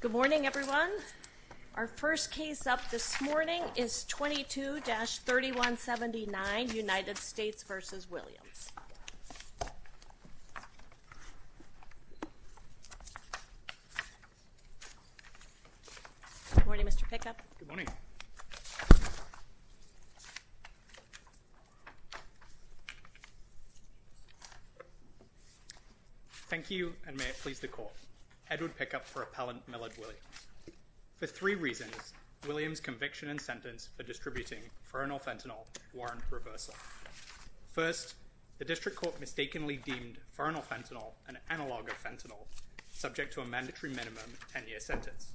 Good morning, everyone. Our first case up this morning is 22-3179 United States v. Williams. Good morning, Mr. Pickup. Good morning. Thank you, and may it please the Court. Edward Pickup for Appellant Millard Williams. For three reasons, Williams' conviction and sentence for distributing fernal fentanyl warrant reversal. First, the District Court mistakenly deemed fernal fentanyl an analogue of fentanyl, subject to a mandatory minimum 10-year sentence.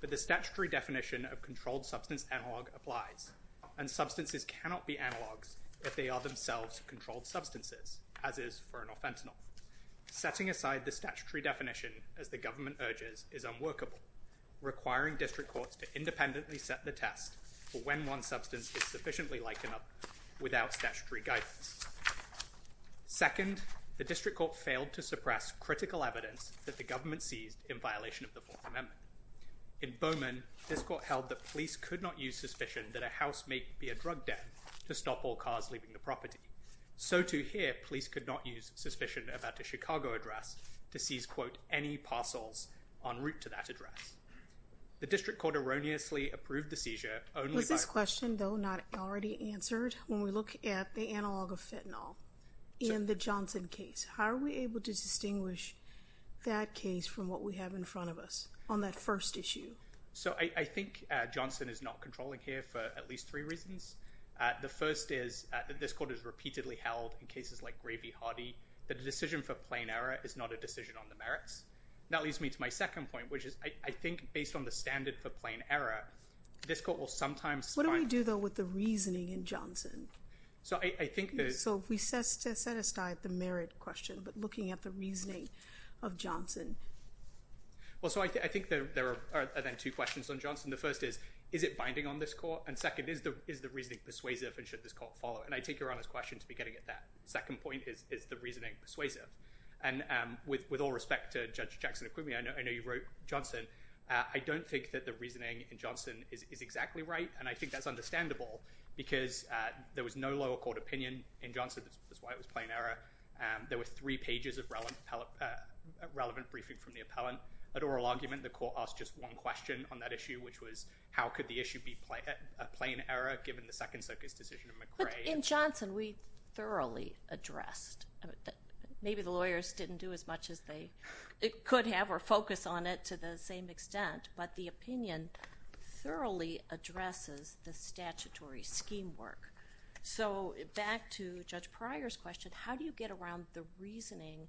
But the statutory definition of controlled substance analogue applies, and substances cannot be analogues if they are themselves controlled substances, as is fernal fentanyl. Setting aside the statutory definition, as the government urges, is unworkable, requiring District Courts to independently set the test for when one substance is sufficiently likened without statutory guidance. Second, the District Court failed to suppress critical evidence that the government seized in violation of the Fourth Amendment. In Bowman, this Court held that police could not use suspicion that a house may be a drug den to stop all cars leaving the property. So, too, here, police could not use suspicion about a Chicago address to seize, quote, any parcels en route to that address. The District Court erroneously approved the seizure only by— When we look at the analogue of fentanyl in the Johnson case, how are we able to distinguish that case from what we have in front of us on that first issue? So, I think Johnson is not controlling here for at least three reasons. The first is that this Court has repeatedly held in cases like Gray v. Hardy that a decision for plain error is not a decision on the merits. That leads me to my second point, which is, I think, based on the standard for plain error, this Court will sometimes— What do we do, though, with the reasoning in Johnson? So, I think that— So, we set aside the merit question, but looking at the reasoning of Johnson. Well, so, I think there are, then, two questions on Johnson. The first is, is it binding on this Court? And, second, is the reasoning persuasive and should this Court follow it? And I take Your Honor's question to be getting at that. The second point is, is the reasoning persuasive? And with all respect to Judge Jackson-Aquini, I know you wrote Johnson. I don't think that the reasoning in Johnson is exactly right, and I think that's understandable, because there was no lower court opinion in Johnson. That's why it was plain error. There were three pages of relevant briefing from the appellant. An oral argument, the Court asked just one question on that issue, which was, how could the issue be a plain error given the second circus decision in McRae? In Johnson, we thoroughly addressed. Maybe the lawyers didn't do as much as they could have or focus on it to the same extent, but the opinion thoroughly addresses the statutory scheme work. So, back to Judge Pryor's question, how do you get around the reasoning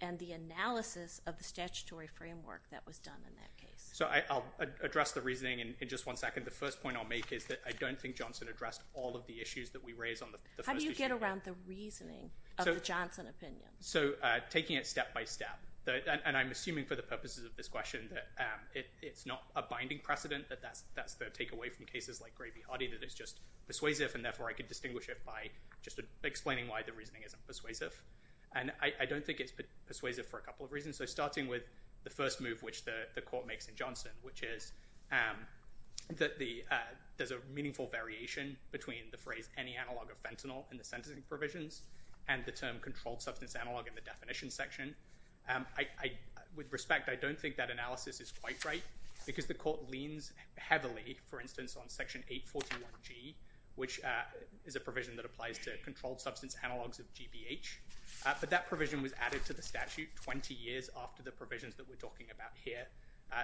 and the analysis of the statutory framework that was done in that case? So, I'll address the reasoning in just one second. The first point I'll make is that I don't think Johnson addressed all of the issues that we raised on the first issue. How do you get around the reasoning of the Johnson opinion? So, taking it step by step, and I'm assuming for the purposes of this question that it's not a binding precedent, that that's the takeaway from cases like Gray v. Hardy, that it's just persuasive, and therefore I could distinguish it by just explaining why the reasoning isn't persuasive. And I don't think it's persuasive for a couple of reasons. So, starting with the first move which the court makes in Johnson, which is that there's a meaningful variation between the phrase any analog of fentanyl in the sentencing provisions and the term controlled substance analog in the definition section. With respect, I don't think that analysis is quite right because the court leans heavily, for instance, on Section 841G, which is a provision that applies to controlled substance analogs of GBH. But that provision was added to the statute 20 years after the provisions that we're talking about here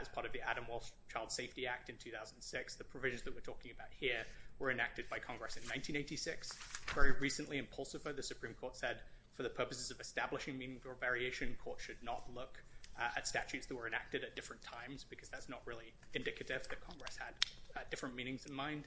as part of the Adam Walsh Child Safety Act in 2006. The provisions that we're talking about here were enacted by Congress in 1986. Very recently in Pulsifer, the Supreme Court said for the purposes of establishing meaningful variation, courts should not look at statutes that were enacted at different times because that's not really indicative that Congress had different meanings in mind.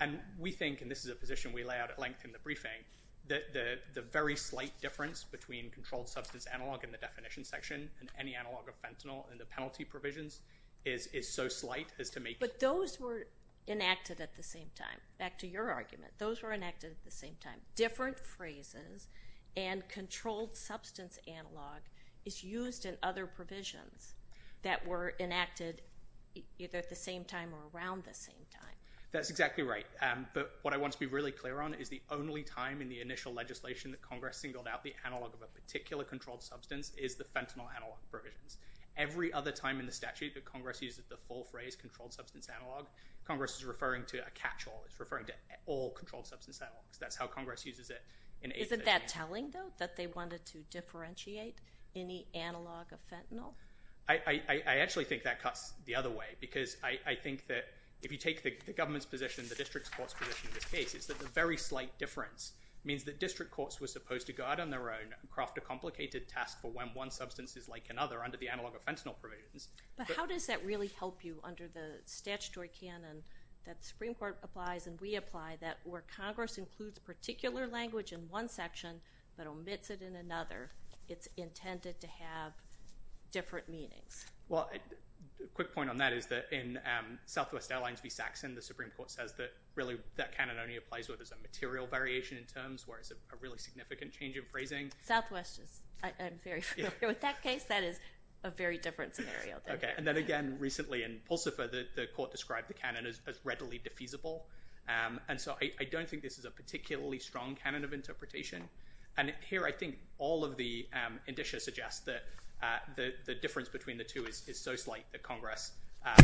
And we think, and this is a position we lay out at length in the briefing, that the very slight difference between controlled substance analog in the definition section and any analog of fentanyl in the penalty provisions is so slight as to make it- But those were enacted at the same time. Back to your argument. Those were enacted at the same time. Different phrases and controlled substance analog is used in other provisions that were enacted either at the same time or around the same time. That's exactly right. But what I want to be really clear on is the only time in the initial legislation that Congress singled out the analog of a particular controlled substance is the fentanyl analog provisions. Every other time in the statute that Congress uses the full phrase controlled substance analog, Congress is referring to a catch-all. It's referring to all controlled substance analogs. That's how Congress uses it in- Isn't that telling, though, that they wanted to differentiate any analog of fentanyl? I actually think that cuts the other way because I think that if you take the government's position, the district court's position in this case, it's that the very slight difference means that district courts were supposed to go out on their own and craft a complicated task for when one substance is like another under the analog of fentanyl provisions. But how does that really help you under the statutory canon that the Supreme Court applies and we apply that where Congress includes particular language in one section but omits it in another, it's intended to have different meanings? Well, a quick point on that is that in Southwest Airlines v. Saxon, the Supreme Court says that really that canon only applies where there's a material variation in terms where it's a really significant change of phrasing. Southwest is- I'm very familiar with that case. That is a very different scenario. And then again, recently in Pulsifer, the court described the canon as readily defeasible. And so I don't think this is a particularly strong canon of interpretation. And here I think all of the indicia suggest that the difference between the two is so slight that Congress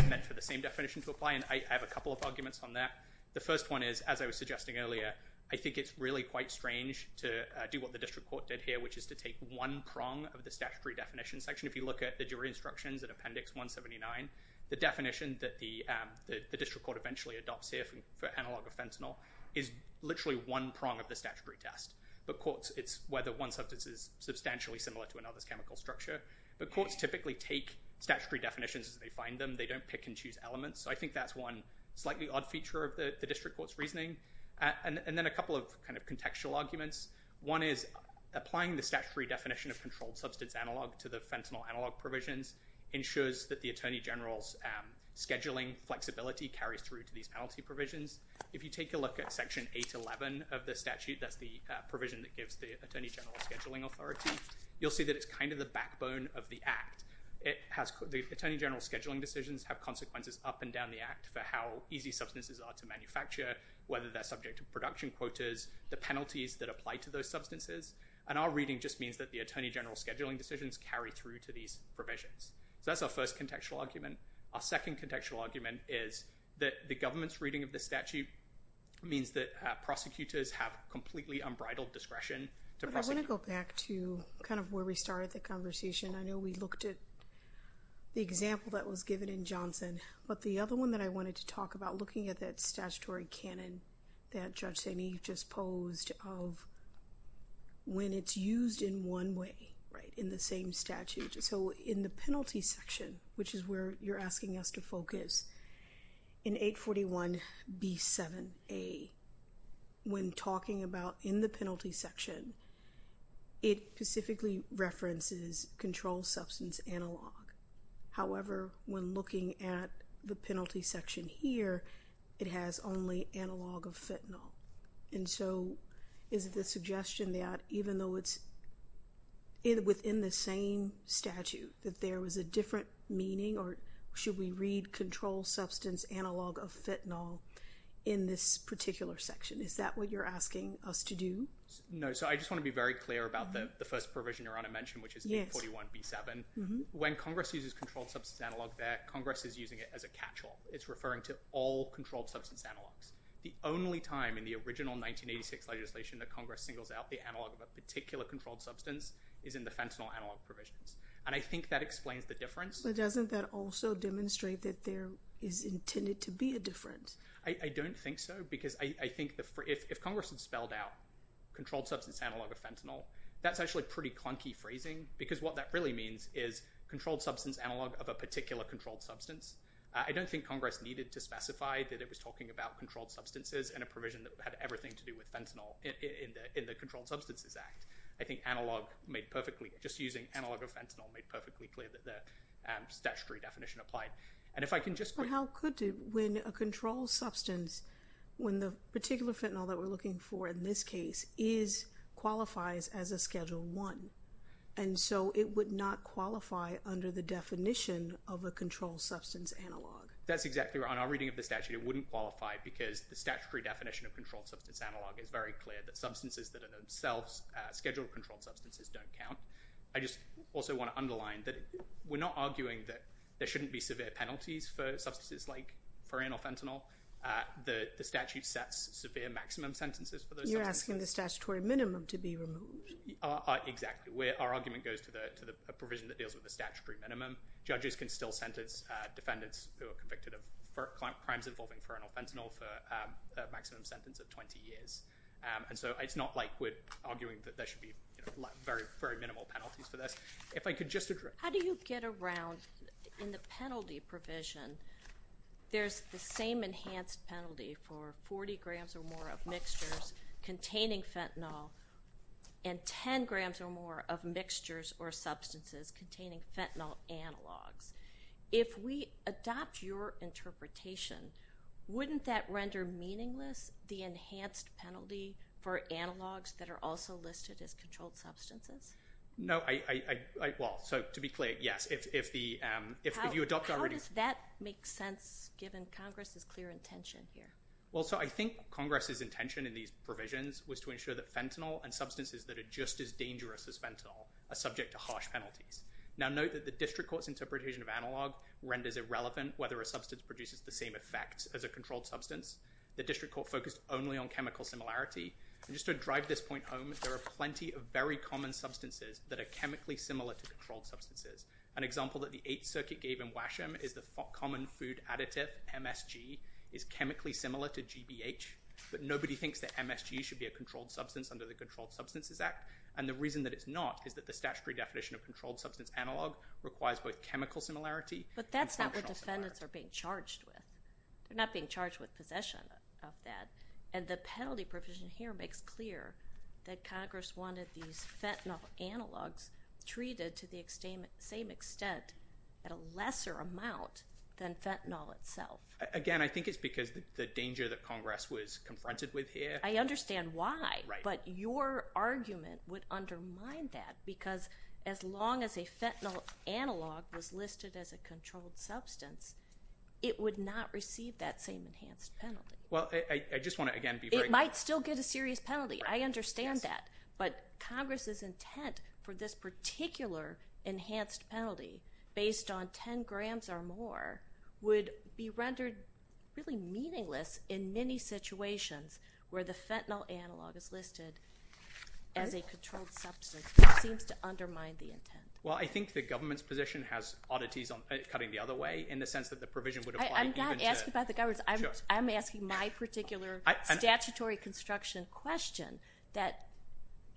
meant for the same definition to apply. And I have a couple of arguments on that. The first one is, as I was suggesting earlier, I think it's really quite strange to do what the district court did here, which is to take one prong of the statutory definition section. If you look at the jury instructions in Appendix 179, the definition that the district court eventually adopts here for analog of fentanyl is literally one prong of the statutory test. But courts, it's whether one substance is substantially similar to another's chemical structure. But courts typically take statutory definitions as they find them. They don't pick and choose elements. So I think that's one slightly odd feature of the district court's reasoning. And then a couple of kind of contextual arguments. One is applying the statutory definition of controlled substance analog to the fentanyl analog provisions ensures that the attorney general's scheduling flexibility carries through to these penalty provisions. If you take a look at Section 811 of the statute, that's the provision that gives the attorney general scheduling authority, you'll see that it's kind of the backbone of the act. The attorney general's scheduling decisions have consequences up and down the act for how easy substances are to manufacture, whether they're subject to production quotas, the penalties that apply to those substances. And our reading just means that the attorney general's scheduling decisions carry through to these provisions. So that's our first contextual argument. Our second contextual argument is that the government's reading of the statute means that prosecutors have completely unbridled discretion to prosecute. I want to go back to kind of where we started the conversation. I know we looked at the example that was given in Johnson, but the other one that I wanted to talk about, looking at that statutory canon that Judge Sainee just posed of when it's used in one way, right, in the same statute. So in the penalty section, which is where you're asking us to focus, in 841B7A, when talking about in the penalty section, it specifically references controlled substance analog. However, when looking at the penalty section here, it has only analog of fentanyl. And so is it the suggestion that even though it's within the same statute, that there was a different meaning, or should we read controlled substance analog of fentanyl in this particular section? Is that what you're asking us to do? No, so I just want to be very clear about the first provision Your Honor mentioned, which is 841B7. When Congress uses controlled substance analog there, Congress is using it as a catch-all. It's referring to all controlled substance analogs. The only time in the original 1986 legislation that Congress singles out the analog of a particular controlled substance is in the fentanyl analog provisions. And I think that explains the difference. But doesn't that also demonstrate that there is intended to be a difference? I don't think so, because I think if Congress had spelled out controlled substance analog of fentanyl, that's actually pretty clunky phrasing, because what that really means is controlled substance analog of a particular controlled substance. I don't think Congress needed to specify that it was talking about controlled substances in a provision that had everything to do with fentanyl in the Controlled Substances Act. I think analog made perfectly—just using analog of fentanyl made perfectly clear that the statutory definition applied. And if I can just— But how could you, when a controlled substance, when the particular fentanyl that we're looking for in this case qualifies as a Schedule I, and so it would not qualify under the definition of a controlled substance analog? That's exactly right. In our reading of the statute, it wouldn't qualify because the statutory definition of controlled substance analog is very clear that substances that are themselves scheduled controlled substances don't count. I just also want to underline that we're not arguing that there shouldn't be severe penalties for substances like ferranol fentanyl. The statute sets severe maximum sentences for those substances. You're asking the statutory minimum to be removed. Exactly. Our argument goes to the provision that deals with the statutory minimum. Judges can still sentence defendants who are convicted of crimes involving ferranol fentanyl for a maximum sentence of 20 years. And so it's not like we're arguing that there should be very minimal penalties for this. If I could just address— How do you get around, in the penalty provision, there's the same enhanced penalty for 40 grams or more of mixtures containing fentanyl and 10 grams or more of mixtures or substances containing fentanyl analogs. If we adopt your interpretation, wouldn't that render meaningless the enhanced penalty for analogs that are also listed as controlled substances? No. Well, so to be clear, yes. If you adopt our— How does that make sense given Congress's clear intention here? Well, so I think Congress's intention in these provisions was to ensure that fentanyl and substances that are just as dangerous as fentanyl are subject to harsh penalties. Now, note that the district court's interpretation of analog renders irrelevant whether a substance produces the same effect as a controlled substance. The district court focused only on chemical similarity. And just to drive this point home, there are plenty of very common substances that are chemically similar to controlled substances. An example that the Eighth Circuit gave in Washam is the common food additive, MSG, is chemically similar to GBH. But nobody thinks that MSG should be a controlled substance under the Controlled Substances Act. And the reason that it's not is that the statutory definition of controlled substance analog requires both chemical similarity and functional similarity. But that's not what defendants are being charged with. They're not being charged with possession of that. And the penalty provision here makes clear that Congress wanted these fentanyl analogs treated to the same extent at a lesser amount than fentanyl itself. Again, I think it's because the danger that Congress was confronted with here— I understand why. Right. But your argument would undermine that because as long as a fentanyl analog was listed as a controlled substance, it would not receive that same enhanced penalty. Well, I just want to, again, be very— It might still get a serious penalty. I understand that. But Congress's intent for this particular enhanced penalty, based on 10 grams or more, would be rendered really meaningless in many situations where the fentanyl analog is listed as a controlled substance. It seems to undermine the intent. Well, I think the government's position has oddities cutting the other way in the sense that the provision would apply even to— I'm not asking about the government's. I'm asking my particular statutory construction question, that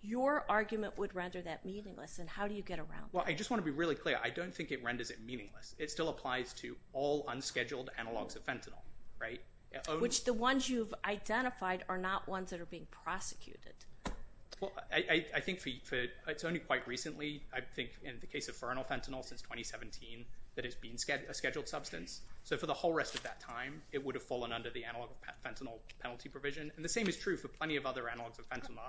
your argument would render that meaningless. And how do you get around that? I don't think it renders it meaningless. It still applies to all unscheduled analogs of fentanyl, right? Which the ones you've identified are not ones that are being prosecuted. I think it's only quite recently, I think in the case of fernal fentanyl since 2017, that it's been a scheduled substance. So for the whole rest of that time, it would have fallen under the analog fentanyl penalty provision. And the same is true for plenty of other analogs of fentanyl.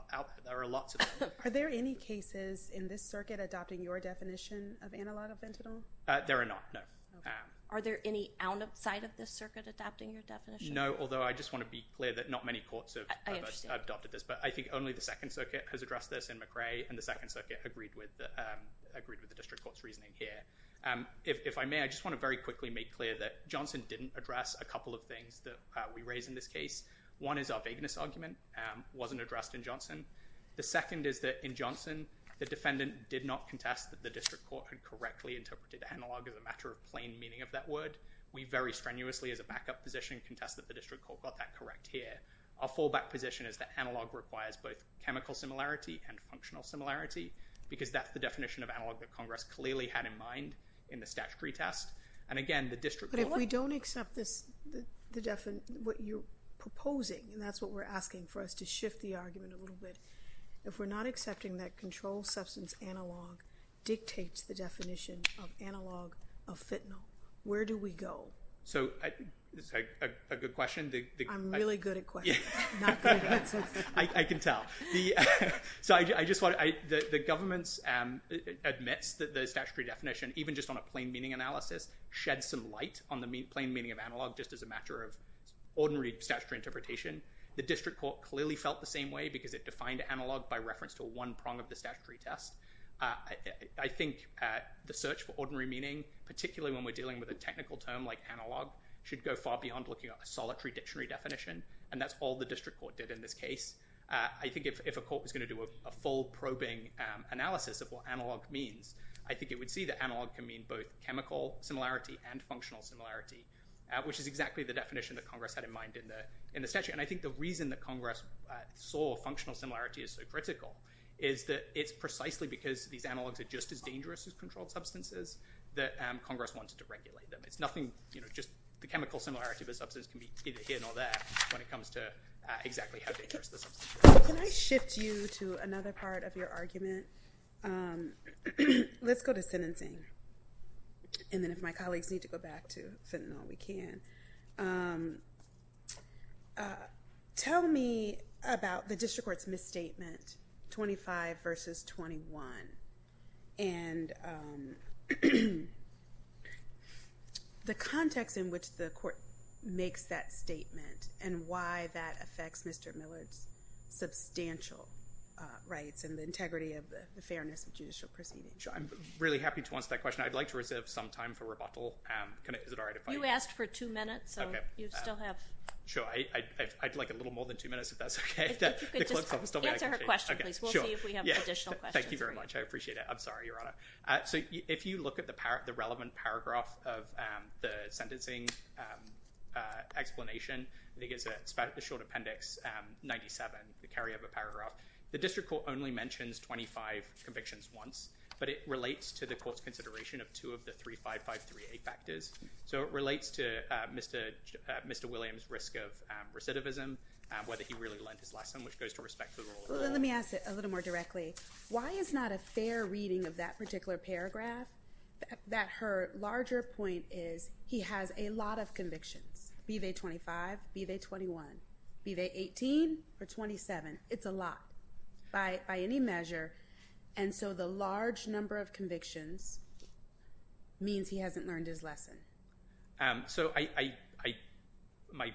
There are lots of them. Are there any cases in this circuit adopting your definition of analog of fentanyl? There are not, no. Are there any outside of this circuit adopting your definition? No, although I just want to be clear that not many courts have adopted this. But I think only the Second Circuit has addressed this in McRae, and the Second Circuit agreed with the District Court's reasoning here. If I may, I just want to very quickly make clear that Johnson didn't address a couple of things that we raise in this case. One is our vagueness argument wasn't addressed in Johnson. The second is that in Johnson, the defendant did not contest that the District Court had correctly interpreted analog as a matter of plain meaning of that word. We very strenuously, as a backup position, contest that the District Court got that correct here. Our fallback position is that analog requires both chemical similarity and functional similarity because that's the definition of analog that Congress clearly had in mind in the statutory test. And again, the District Court— But if we don't accept what you're proposing, and that's what we're asking for us to shift the argument a little bit, if we're not accepting that controlled substance analog dictates the definition of analog of fentanyl, where do we go? That's a good question. I'm really good at questions. I can tell. The government admits that the statutory definition, even just on a plain meaning analysis, sheds some light on the plain meaning of analog just as a matter of ordinary statutory interpretation. The District Court clearly felt the same way because it defined analog by reference to one prong of the statutory test. I think the search for ordinary meaning, particularly when we're dealing with a technical term like analog, should go far beyond looking at a solitary dictionary definition, and that's all the District Court did in this case. I think if a court was going to do a full probing analysis of what analog means, I think it would see that analog can mean both chemical similarity and functional similarity, which is exactly the definition that Congress had in mind in the statute. I think the reason that Congress saw functional similarity as so critical is that it's precisely because these analogs are just as dangerous as controlled substances that Congress wanted to regulate them. The chemical similarity of a substance can be either here nor there when it comes to exactly how dangerous the substance is. Can I shift you to another part of your argument? Let's go to sentencing, and then if my colleagues need to go back to sentinel, we can. Tell me about the District Court's misstatement, 25 versus 21, and the context in which the court makes that statement and why that affects Mr. Millard's substantial rights and the integrity of the fairness of judicial prison. I'm really happy to answer that question. I'd like to reserve some time for rebuttal. Is it all right if I— You asked for two minutes, so you still have— Sure. I'd like a little more than two minutes if that's okay. If you could just answer her question, please. We'll see if we have additional questions. Thank you very much. I appreciate it. I'm sorry, Your Honor. If you look at the relevant paragraph of the sentencing explanation, I think it's the short appendix 97, the carryover paragraph, the District Court only mentions 25 convictions once, but it relates to the court's consideration of two of the 35538 factors, so it relates to Mr. Williams' risk of recidivism, whether he really learned his lesson, which goes to respect the rule. Let me ask it a little more directly. Why is not a fair reading of that particular paragraph? Her larger point is he has a lot of convictions, be they 25, be they 21, be they 18 or 27. It's a lot by any measure, and so the large number of convictions means he hasn't learned his lesson. So my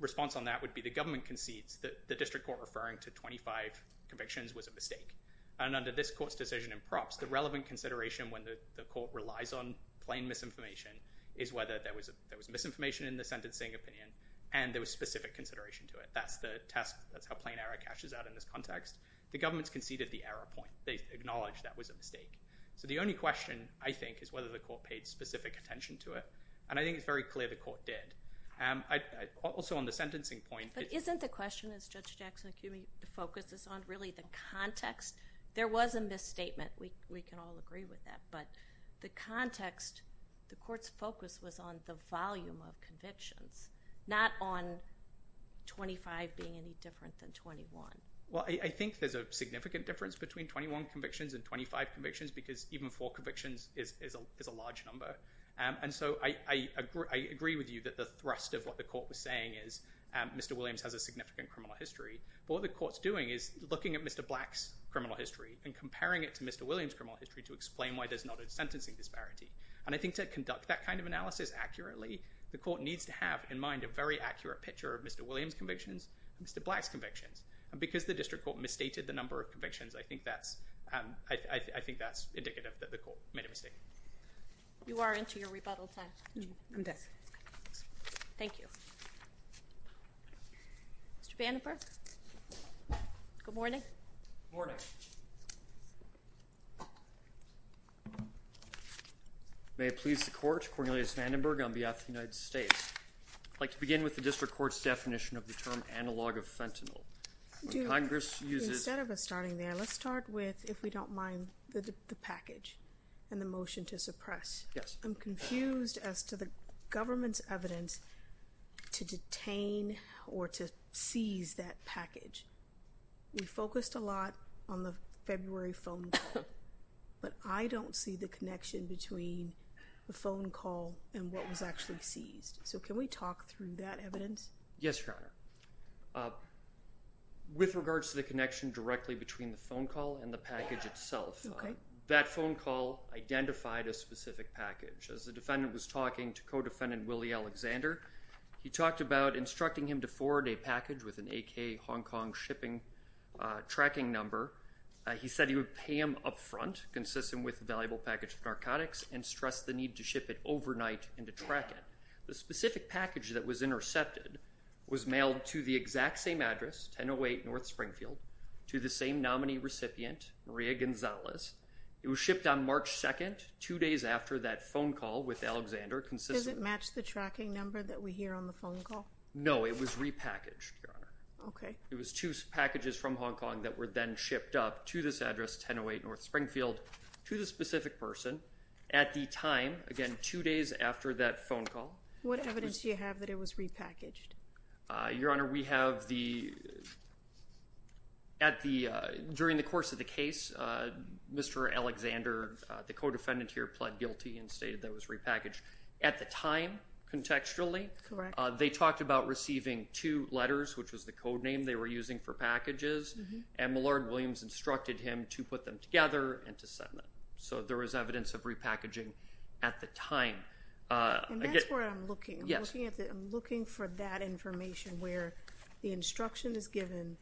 response on that would be the government concedes that the District Court referring to 25 convictions was a mistake, and under this court's decision in props, the relevant consideration when the court relies on plain misinformation is whether there was misinformation in the sentencing opinion and there was specific consideration to it. That's the test. That's how plain error cashes out in this context. The government's conceded the error point. They acknowledged that was a mistake. So the only question I think is whether the court paid specific attention to it, and I think it's very clear the court did. Also on the sentencing point— But isn't the question, as Judge Jackson, if you focus on really the context, there was a misstatement. We can all agree with that, but the context, the court's focus was on the volume of convictions, not on 25 being any different than 21. Well, I think there's a significant difference between 21 convictions and 25 convictions because even four convictions is a large number, and so I agree with you that the thrust of what the court was saying is Mr. Williams has a significant criminal history. What the court's doing is looking at Mr. Black's criminal history and comparing it to Mr. Williams' criminal history to explain why there's not a sentencing disparity, and I think to conduct that kind of analysis accurately, the court needs to have in mind a very accurate picture of Mr. Williams' convictions, Mr. Black's convictions, and because the district court misstated the number of convictions, I think that's indicative that the court made a mistake. You are into your rebuttal time. I'm done. Thank you. Mr. Vandenberg? Good morning. Good morning. May it please the court, Cornelius Vandenberg on behalf of the United States. I'd like to begin with the district court's definition of the term analog of fentanyl. Instead of us starting there, let's start with, if we don't mind, the package and the motion to suppress. Yes. I'm confused as to the government's evidence to detain or to seize that package. We focused a lot on the February phone call, but I don't see the connection between the phone call and what was actually seized. So can we talk through that evidence? Yes, Your Honor. With regards to the connection directly between the phone call and the package itself, that phone call identified a specific package. As the defendant was talking to co-defendant Willie Alexander, he talked about instructing him to forward a package with an AK Hong Kong shipping tracking number. He said he would pay him up front consistent with the valuable package of narcotics and stress the need to ship it overnight and to track it. The specific package that was intercepted was mailed to the exact same address, 1008 North Springfield, to the same nominee recipient, Maria Gonzalez. It was shipped on March 2nd, two days after that phone call with Alexander. Does it match the tracking number that we hear on the phone call? No, it was repackaged, Your Honor. Okay. It was two packages from Hong Kong that were then shipped up to this address, 1008 North Springfield, to the specific person at the time, again, two days after that phone call. What evidence do you have that it was repackaged? Your Honor, we have the, at the, during the course of the case, Mr. Alexander, the co-defendant here pled guilty and stated that it was repackaged at the time, contextually. Correct. They talked about receiving two letters, which was the code name they were using for packages, and Millard Williams instructed him to put them together and to send them. So there was evidence of repackaging at the time. And that's where I'm looking. Yes. I'm looking for that information where the instruction is given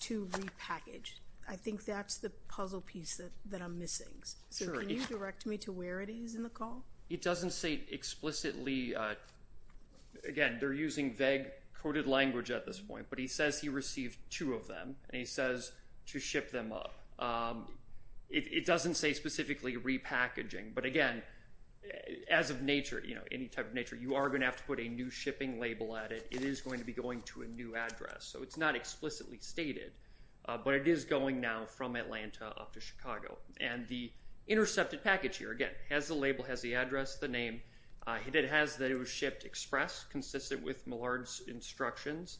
to repackage. I think that's the puzzle piece that I'm missing. So can you direct me to where it is in the call? It doesn't say explicitly. Again, they're using vague coded language at this point, but he says he received two of them, and he says to ship them up. It doesn't say specifically repackaging, but, again, as of nature, you know, any type of nature, you are going to have to put a new shipping label at it. It is going to be going to a new address. So it's not explicitly stated, but it is going now from Atlanta up to Chicago. And the intercepted package here, again, has the label, has the address, the name, and it has that it was shipped express, consistent with Millard's instructions.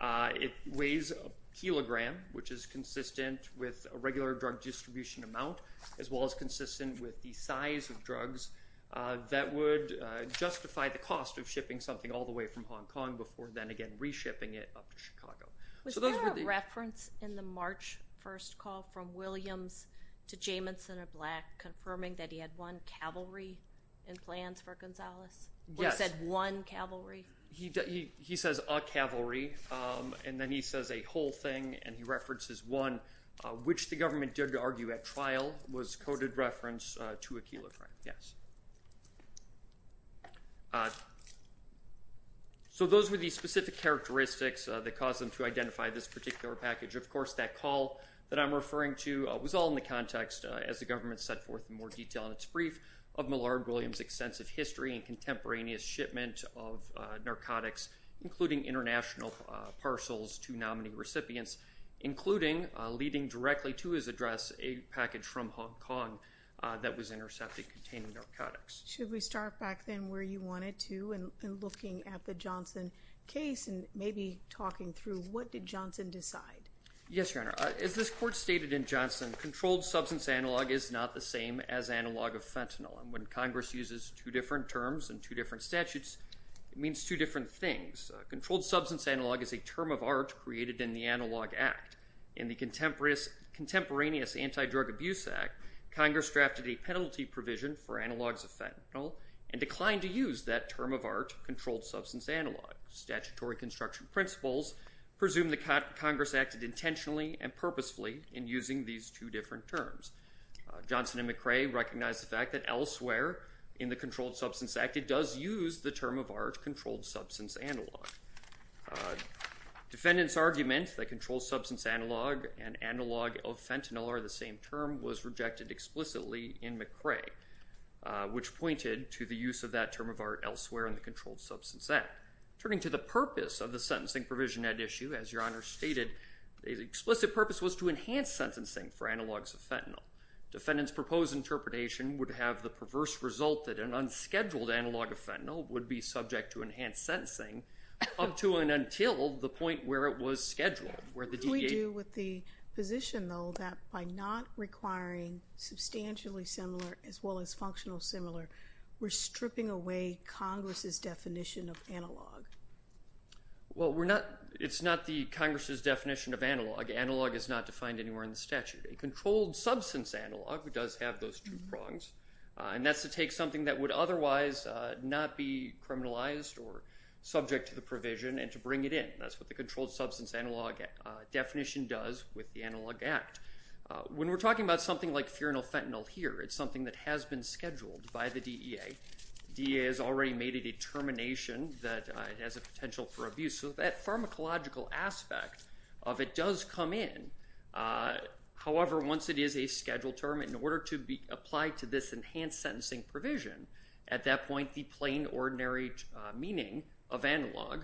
It weighs a kilogram, which is consistent with a regular drug distribution amount, as well as consistent with the size of drugs that would justify the cost of Was there a reference in the March 1st call from Williams to Jamison of Black confirming that he had one cavalry in plans for Gonzales? Yes. When he said one cavalry? He says a cavalry, and then he says a whole thing, and he references one, which the government did argue at trial was coded reference to Aquila. Yes. So those were the specific characteristics that caused them to identify this particular package. Of course, that call that I'm referring to was all in the context, as the government set forth in more detail in its brief, of Millard Williams' extensive history and contemporaneous shipment of narcotics, including international parcels to nominee recipients, including leading directly to his address a package from Hong Kong that was intercepted containing narcotics. Should we start back then where you wanted to, and looking at the Johnson case and maybe talking through what did Johnson decide? Yes, Your Honor. As this court stated in Johnson, controlled substance analog is not the same as analog of fentanyl. And when Congress uses two different terms and two different statutes, it means two different things. Controlled substance analog is a term of art created in the analog act. In the contemporaneous anti-drug abuse act, Congress drafted a penalty provision for analogs of fentanyl and declined to use that term of art controlled substance analog. Statutory construction principles presume the Congress acted intentionally and purposefully in using these two different terms. Johnson and McRae recognized the fact that elsewhere in the controlled substance act, it does use the term of art controlled substance analog. Defendant's argument that controlled substance analog and analog of fentanyl are the same term was rejected explicitly in McRae, which pointed to the use of that term of art elsewhere in the controlled substance act. Turning to the purpose of the sentencing provision at issue, as Your Honor stated, the explicit purpose was to enhance sentencing for analogs of fentanyl. Defendant's proposed interpretation would have the perverse result that an unscheduled analog of fentanyl would be subject to enhanced sentencing up to and until the point where it was scheduled. What do we do with the position, though, that by not requiring substantially similar as well as functional similar, we're stripping away Congress's definition of analog? Well, it's not the Congress's definition of analog. Analog is not defined anywhere in the statute. A controlled substance analog does have those two prongs, and that's to take something that would otherwise not be criminalized or subject to the provision and to bring it in. That's what the controlled substance analog definition does with the analog act. When we're talking about something like furinal fentanyl here, it's something that has been scheduled by the DEA. DEA has already made a determination that it has a potential for abuse. So that pharmacological aspect of it does come in. However, once it is a scheduled term in order to be applied to this enhanced sentencing provision, at that point, the plain ordinary meaning of analog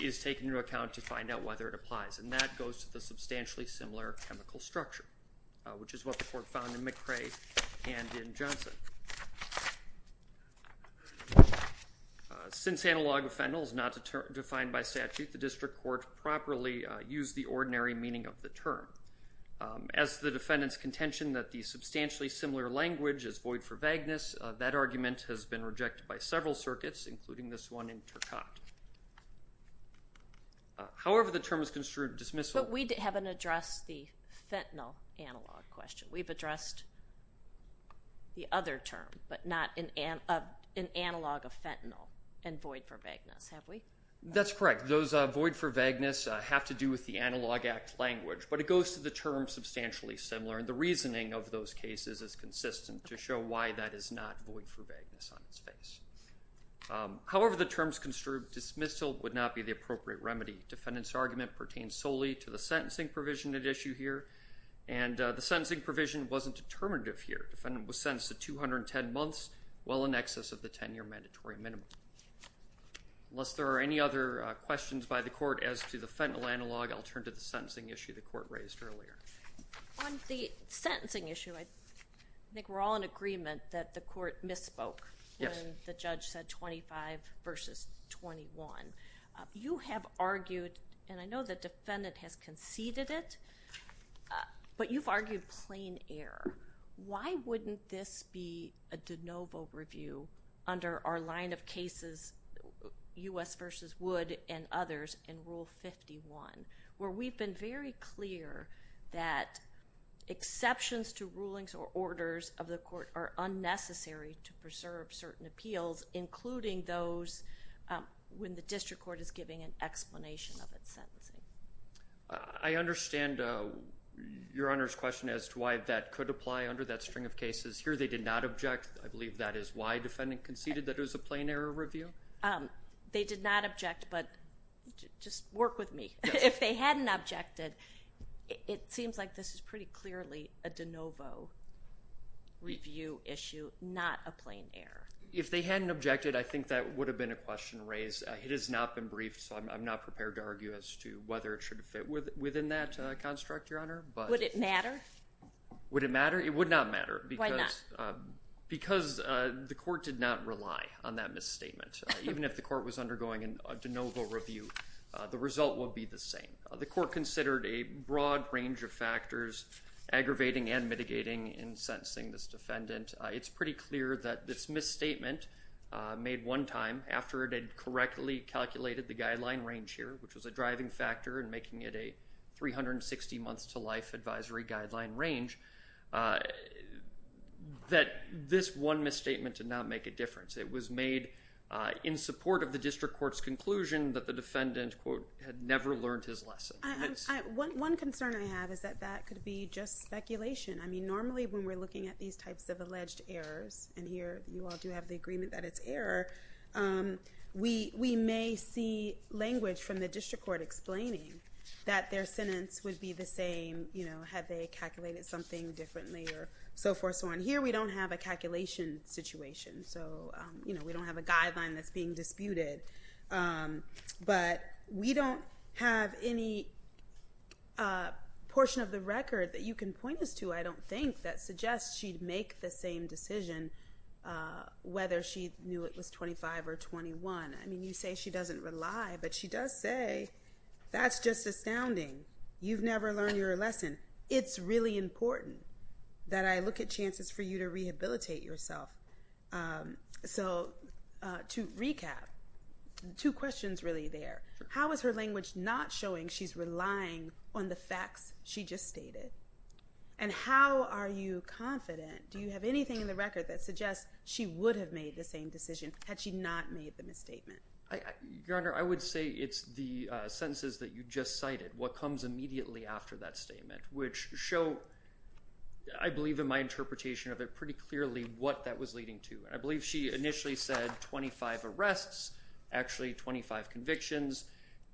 is taken into account to find out whether it applies. And that goes to the substantially similar chemical structure, which is what the court found in McCray and in Johnson. Since analog of fentanyl is not defined by statute, the district court properly used the ordinary meaning of the term. As the defendant's contention that the substantially similar language is void for vagueness, that argument has been rejected by several circuits, including this one in Turcotte. However, the term is construed dismissal. But we haven't addressed the fentanyl analog question. We've addressed the other term, but not an analog of fentanyl and void for vagueness. Have we? That's correct. Those are void for vagueness have to do with the analog act language, but it goes to the term substantially similar. And the reasoning of those cases is consistent to show why that is not void for vagueness on its face. However, the terms construed dismissal would not be the appropriate remedy. Defendant's argument pertains solely to the sentencing provision at issue here. And the sentencing provision wasn't determinative here. Defendant was sentenced to 210 months, well in excess of the 10-year mandatory minimum. Unless there are any other questions by the court as to the fentanyl analog, I'll turn to the sentencing issue the court raised earlier. On the sentencing issue, I think we're all in agreement that the court misspoke when the judge said 25 versus 21. You have argued, and I know the defendant has conceded it, but you've argued plain error. Why wouldn't this be a de novo review under our line of cases, U.S. versus Wood and others in Rule 51, where we've been very clear that exceptions to rulings or orders of the court are unnecessary to preserve certain appeals, including those when the district court is giving an explanation of its sentencing. I understand your Honor's question as to why that could apply under that string of cases here. They did not object. I believe that is why defendant conceded that it was a plain error review. They did not object, but just work with me. If they hadn't objected, it seems like this is pretty clearly a de novo review issue, not a plain error. If they hadn't objected, I think that would have been a question raised. It has not been briefed, so I'm not prepared to argue as to whether it should fit within that construct, your Honor. Would it matter? Would it matter? It would not matter because the court did not rely on that misstatement. Even if the court was undergoing a de novo review, the result will be the same. The court considered a broad range of factors, aggravating and mitigating in sentencing this defendant. It's pretty clear that this misstatement made one time after it had correctly calculated the guideline range here, which was a driving factor and making it a 360 months to life advisory guideline range, that this one misstatement did not make a difference. It was made in support of the district court's conclusion that the defendant quote had never learned his lesson. One concern I have is that that could be just speculation. I mean, normally when we're looking at these types of alleged errors and here you all do have the agreement that it's error. We, we may see language from the district court explaining that their sentence would be the same, you know, had they calculated something differently or so forth. So on here we don't have a calculation situation. So, you know, we don't have a guideline that's being disputed. But we don't have any portion of the record that you can point us to. I don't think that suggests she'd make the same decision whether she knew it was 25 or 21. I mean, you say she doesn't rely, but she does say that's just astounding. You've never learned your lesson. It's really important that I look at chances for you to rehabilitate yourself. Um, so, uh, to recap, two questions really there. How is her language not showing she's relying on the facts she just stated? And how are you confident? Do you have anything in the record that suggests she would have made the same decision? Had she not made the misstatement? I, your honor, I would say it's the sentences that you just cited. What comes immediately after that statement, which show, I believe in my interpretation of it pretty clearly. What that was leading to. I believe she initially said 25 arrests, actually 25 convictions.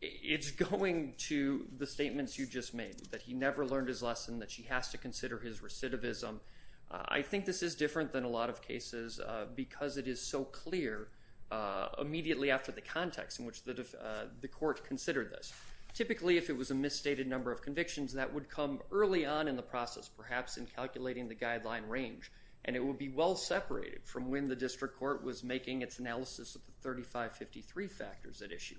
It's going to the statements you just made that he never learned his lesson that she has to consider his recidivism. I think this is different than a lot of cases, uh, because it is so clear, uh, immediately after the context in which the, uh, the court considered this typically, if it was a misstated number of convictions that would come early on in the process, perhaps in calculating the guideline range, and it will be well separated from when the district court was making its analysis of the 3553 factors at issue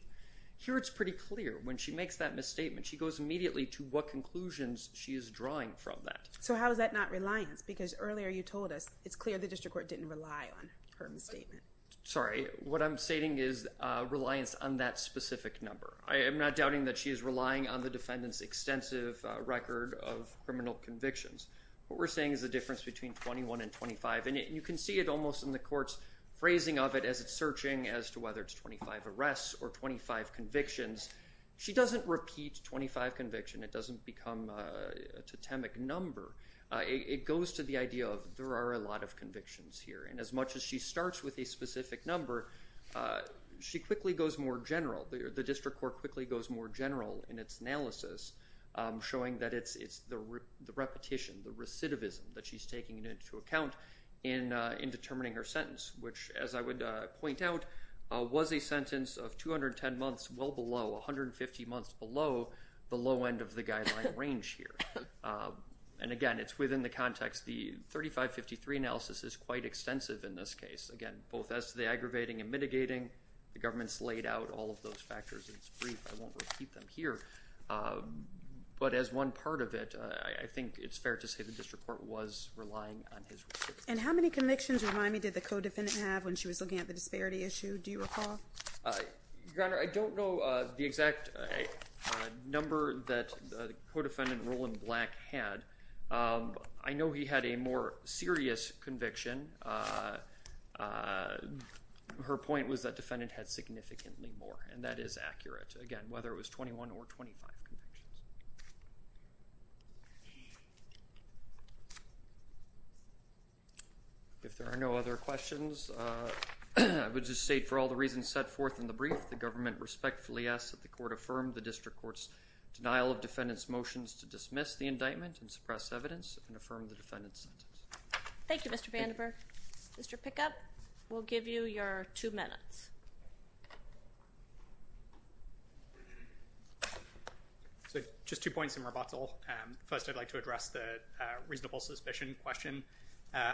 here. It's pretty clear when she makes that misstatement, she goes immediately to what conclusions she is drawing from that. So how does that not reliance? Because earlier you told us it's clear the district court didn't rely on her misstatement. Sorry. What I'm stating is a reliance on that specific number. I am not doubting that she is relying on the defendant's extensive record of criminal convictions. What we're saying is the difference between 21 and 25. And you can see it almost in the court's phrasing of it as it's searching as to whether it's 25 arrests or 25 convictions. She doesn't repeat 25 conviction. It doesn't become a totemic number. Uh, it goes to the idea of there are a lot of convictions here. And as much as she starts with a specific number, uh, she quickly goes more general. The district court quickly goes more general in its analysis, um, of the repetition, the recidivism that she's taking into account in, uh, in determining her sentence, which as I would, uh, point out, uh, was a sentence of 210 months. Well below 150 months below the low end of the guideline range here. Um, and again, it's within the context, the 3553 analysis is quite extensive in this case. Again, both as the aggravating and mitigating the government's laid out all of those factors. It's brief. I won't repeat them here. Um, but as one part of it, I think it's fair to say the district court was relying on his. And how many convictions remind me? Did the co-defendant have when she was looking at the disparity issue? Do you recall? Uh, your Honor, I don't know, uh, the exact, uh, number that the co-defendant Roland black had. Um, I know he had a more serious conviction. Uh, uh, her point was that defendant had significantly more and that is accurate again, whether it was 21 or 25. Okay. If there are no other questions, uh, I would just say for all the reasons set forth in the brief, the government respectfully asked that the court affirmed the district courts, denial of defendants motions to dismiss the indictment and suppress evidence and affirm the defendants. Thank you, Mr. Vandiver, Mr. Pickup. We'll give you your two minutes. So just two points in rebuttal. Um, first I'd like to address the, uh, reasonable suspicion question. Uh,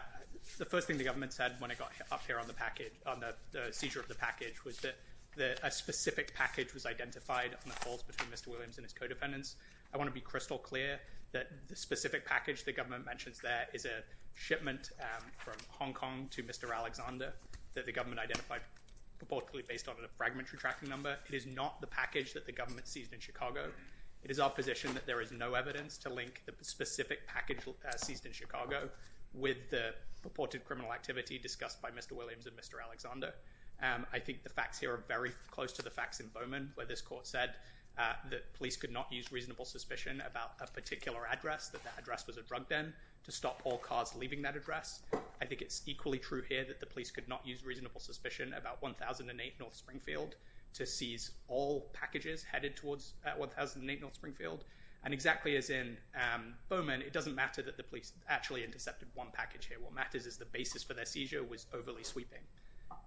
the first thing the government said when it got up here on the packet on the seizure of the package was that the, a specific package was identified on the calls between Mr. Williams and his co-dependents. I want to be crystal clear that the specific package, the government mentions that is a shipment, um, from Hong Kong to Mr. Proportionally based on a fragmentary tracking number. It is not the package that the government sees in Chicago. It is our position that there is no evidence to link the specific package seized in Chicago with the purported criminal activity discussed by Mr. Williams and Mr. Alexander. Um, I think the facts here are very close to the facts in Bowman where this court said, uh, that police could not use reasonable suspicion about a particular address, that the address was a drug den to stop all cars leaving that address. I think it's equally true here that the police could not use reasonable suspicion about 1,008 North Springfield to seize all cars. And exactly as in, um, Bowman, it doesn't matter that the police actually intercepted one package here. What matters is the basis for their seizure was overly sweeping.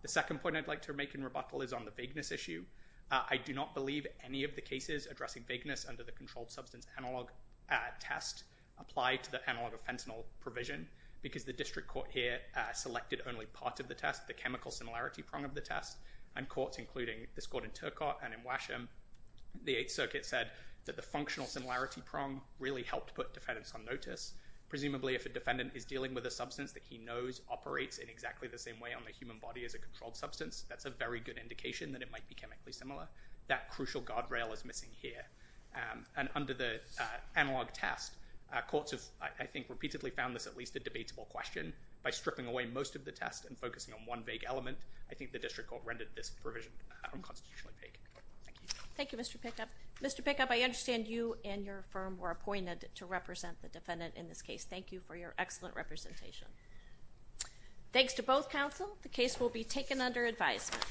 The second point I'd like to make in rebuttal is on the vagueness issue. Uh, I do not believe any of the cases addressing vagueness under the controlled substance analog, uh, test applied to the analog of fentanyl provision because the district court here, uh, selected only part of the test, the chemical similarity prong of the test and courts, including this court in Turcotte and in Washington, the eighth circuit said that the functional similarity prong really helped put defendants on notice. Presumably if a defendant is dealing with a substance that he knows operates in exactly the same way on the human body as a controlled substance, that's a very good indication that it might be chemically similar. That crucial guardrail is missing here. Um, and under the analog test, uh, courts have, I think repeatedly found this at least a debatable question by stripping away most of the test and focusing on one big element. I think the district court rendered this provision. Thank you. Thank you, Mr. Pickup. Mr. Pickup, I understand you and your firm were appointed to represent the defendant in this case. Thank you for your excellent representation. Thanks to both counsel. The case will be taken under advisement.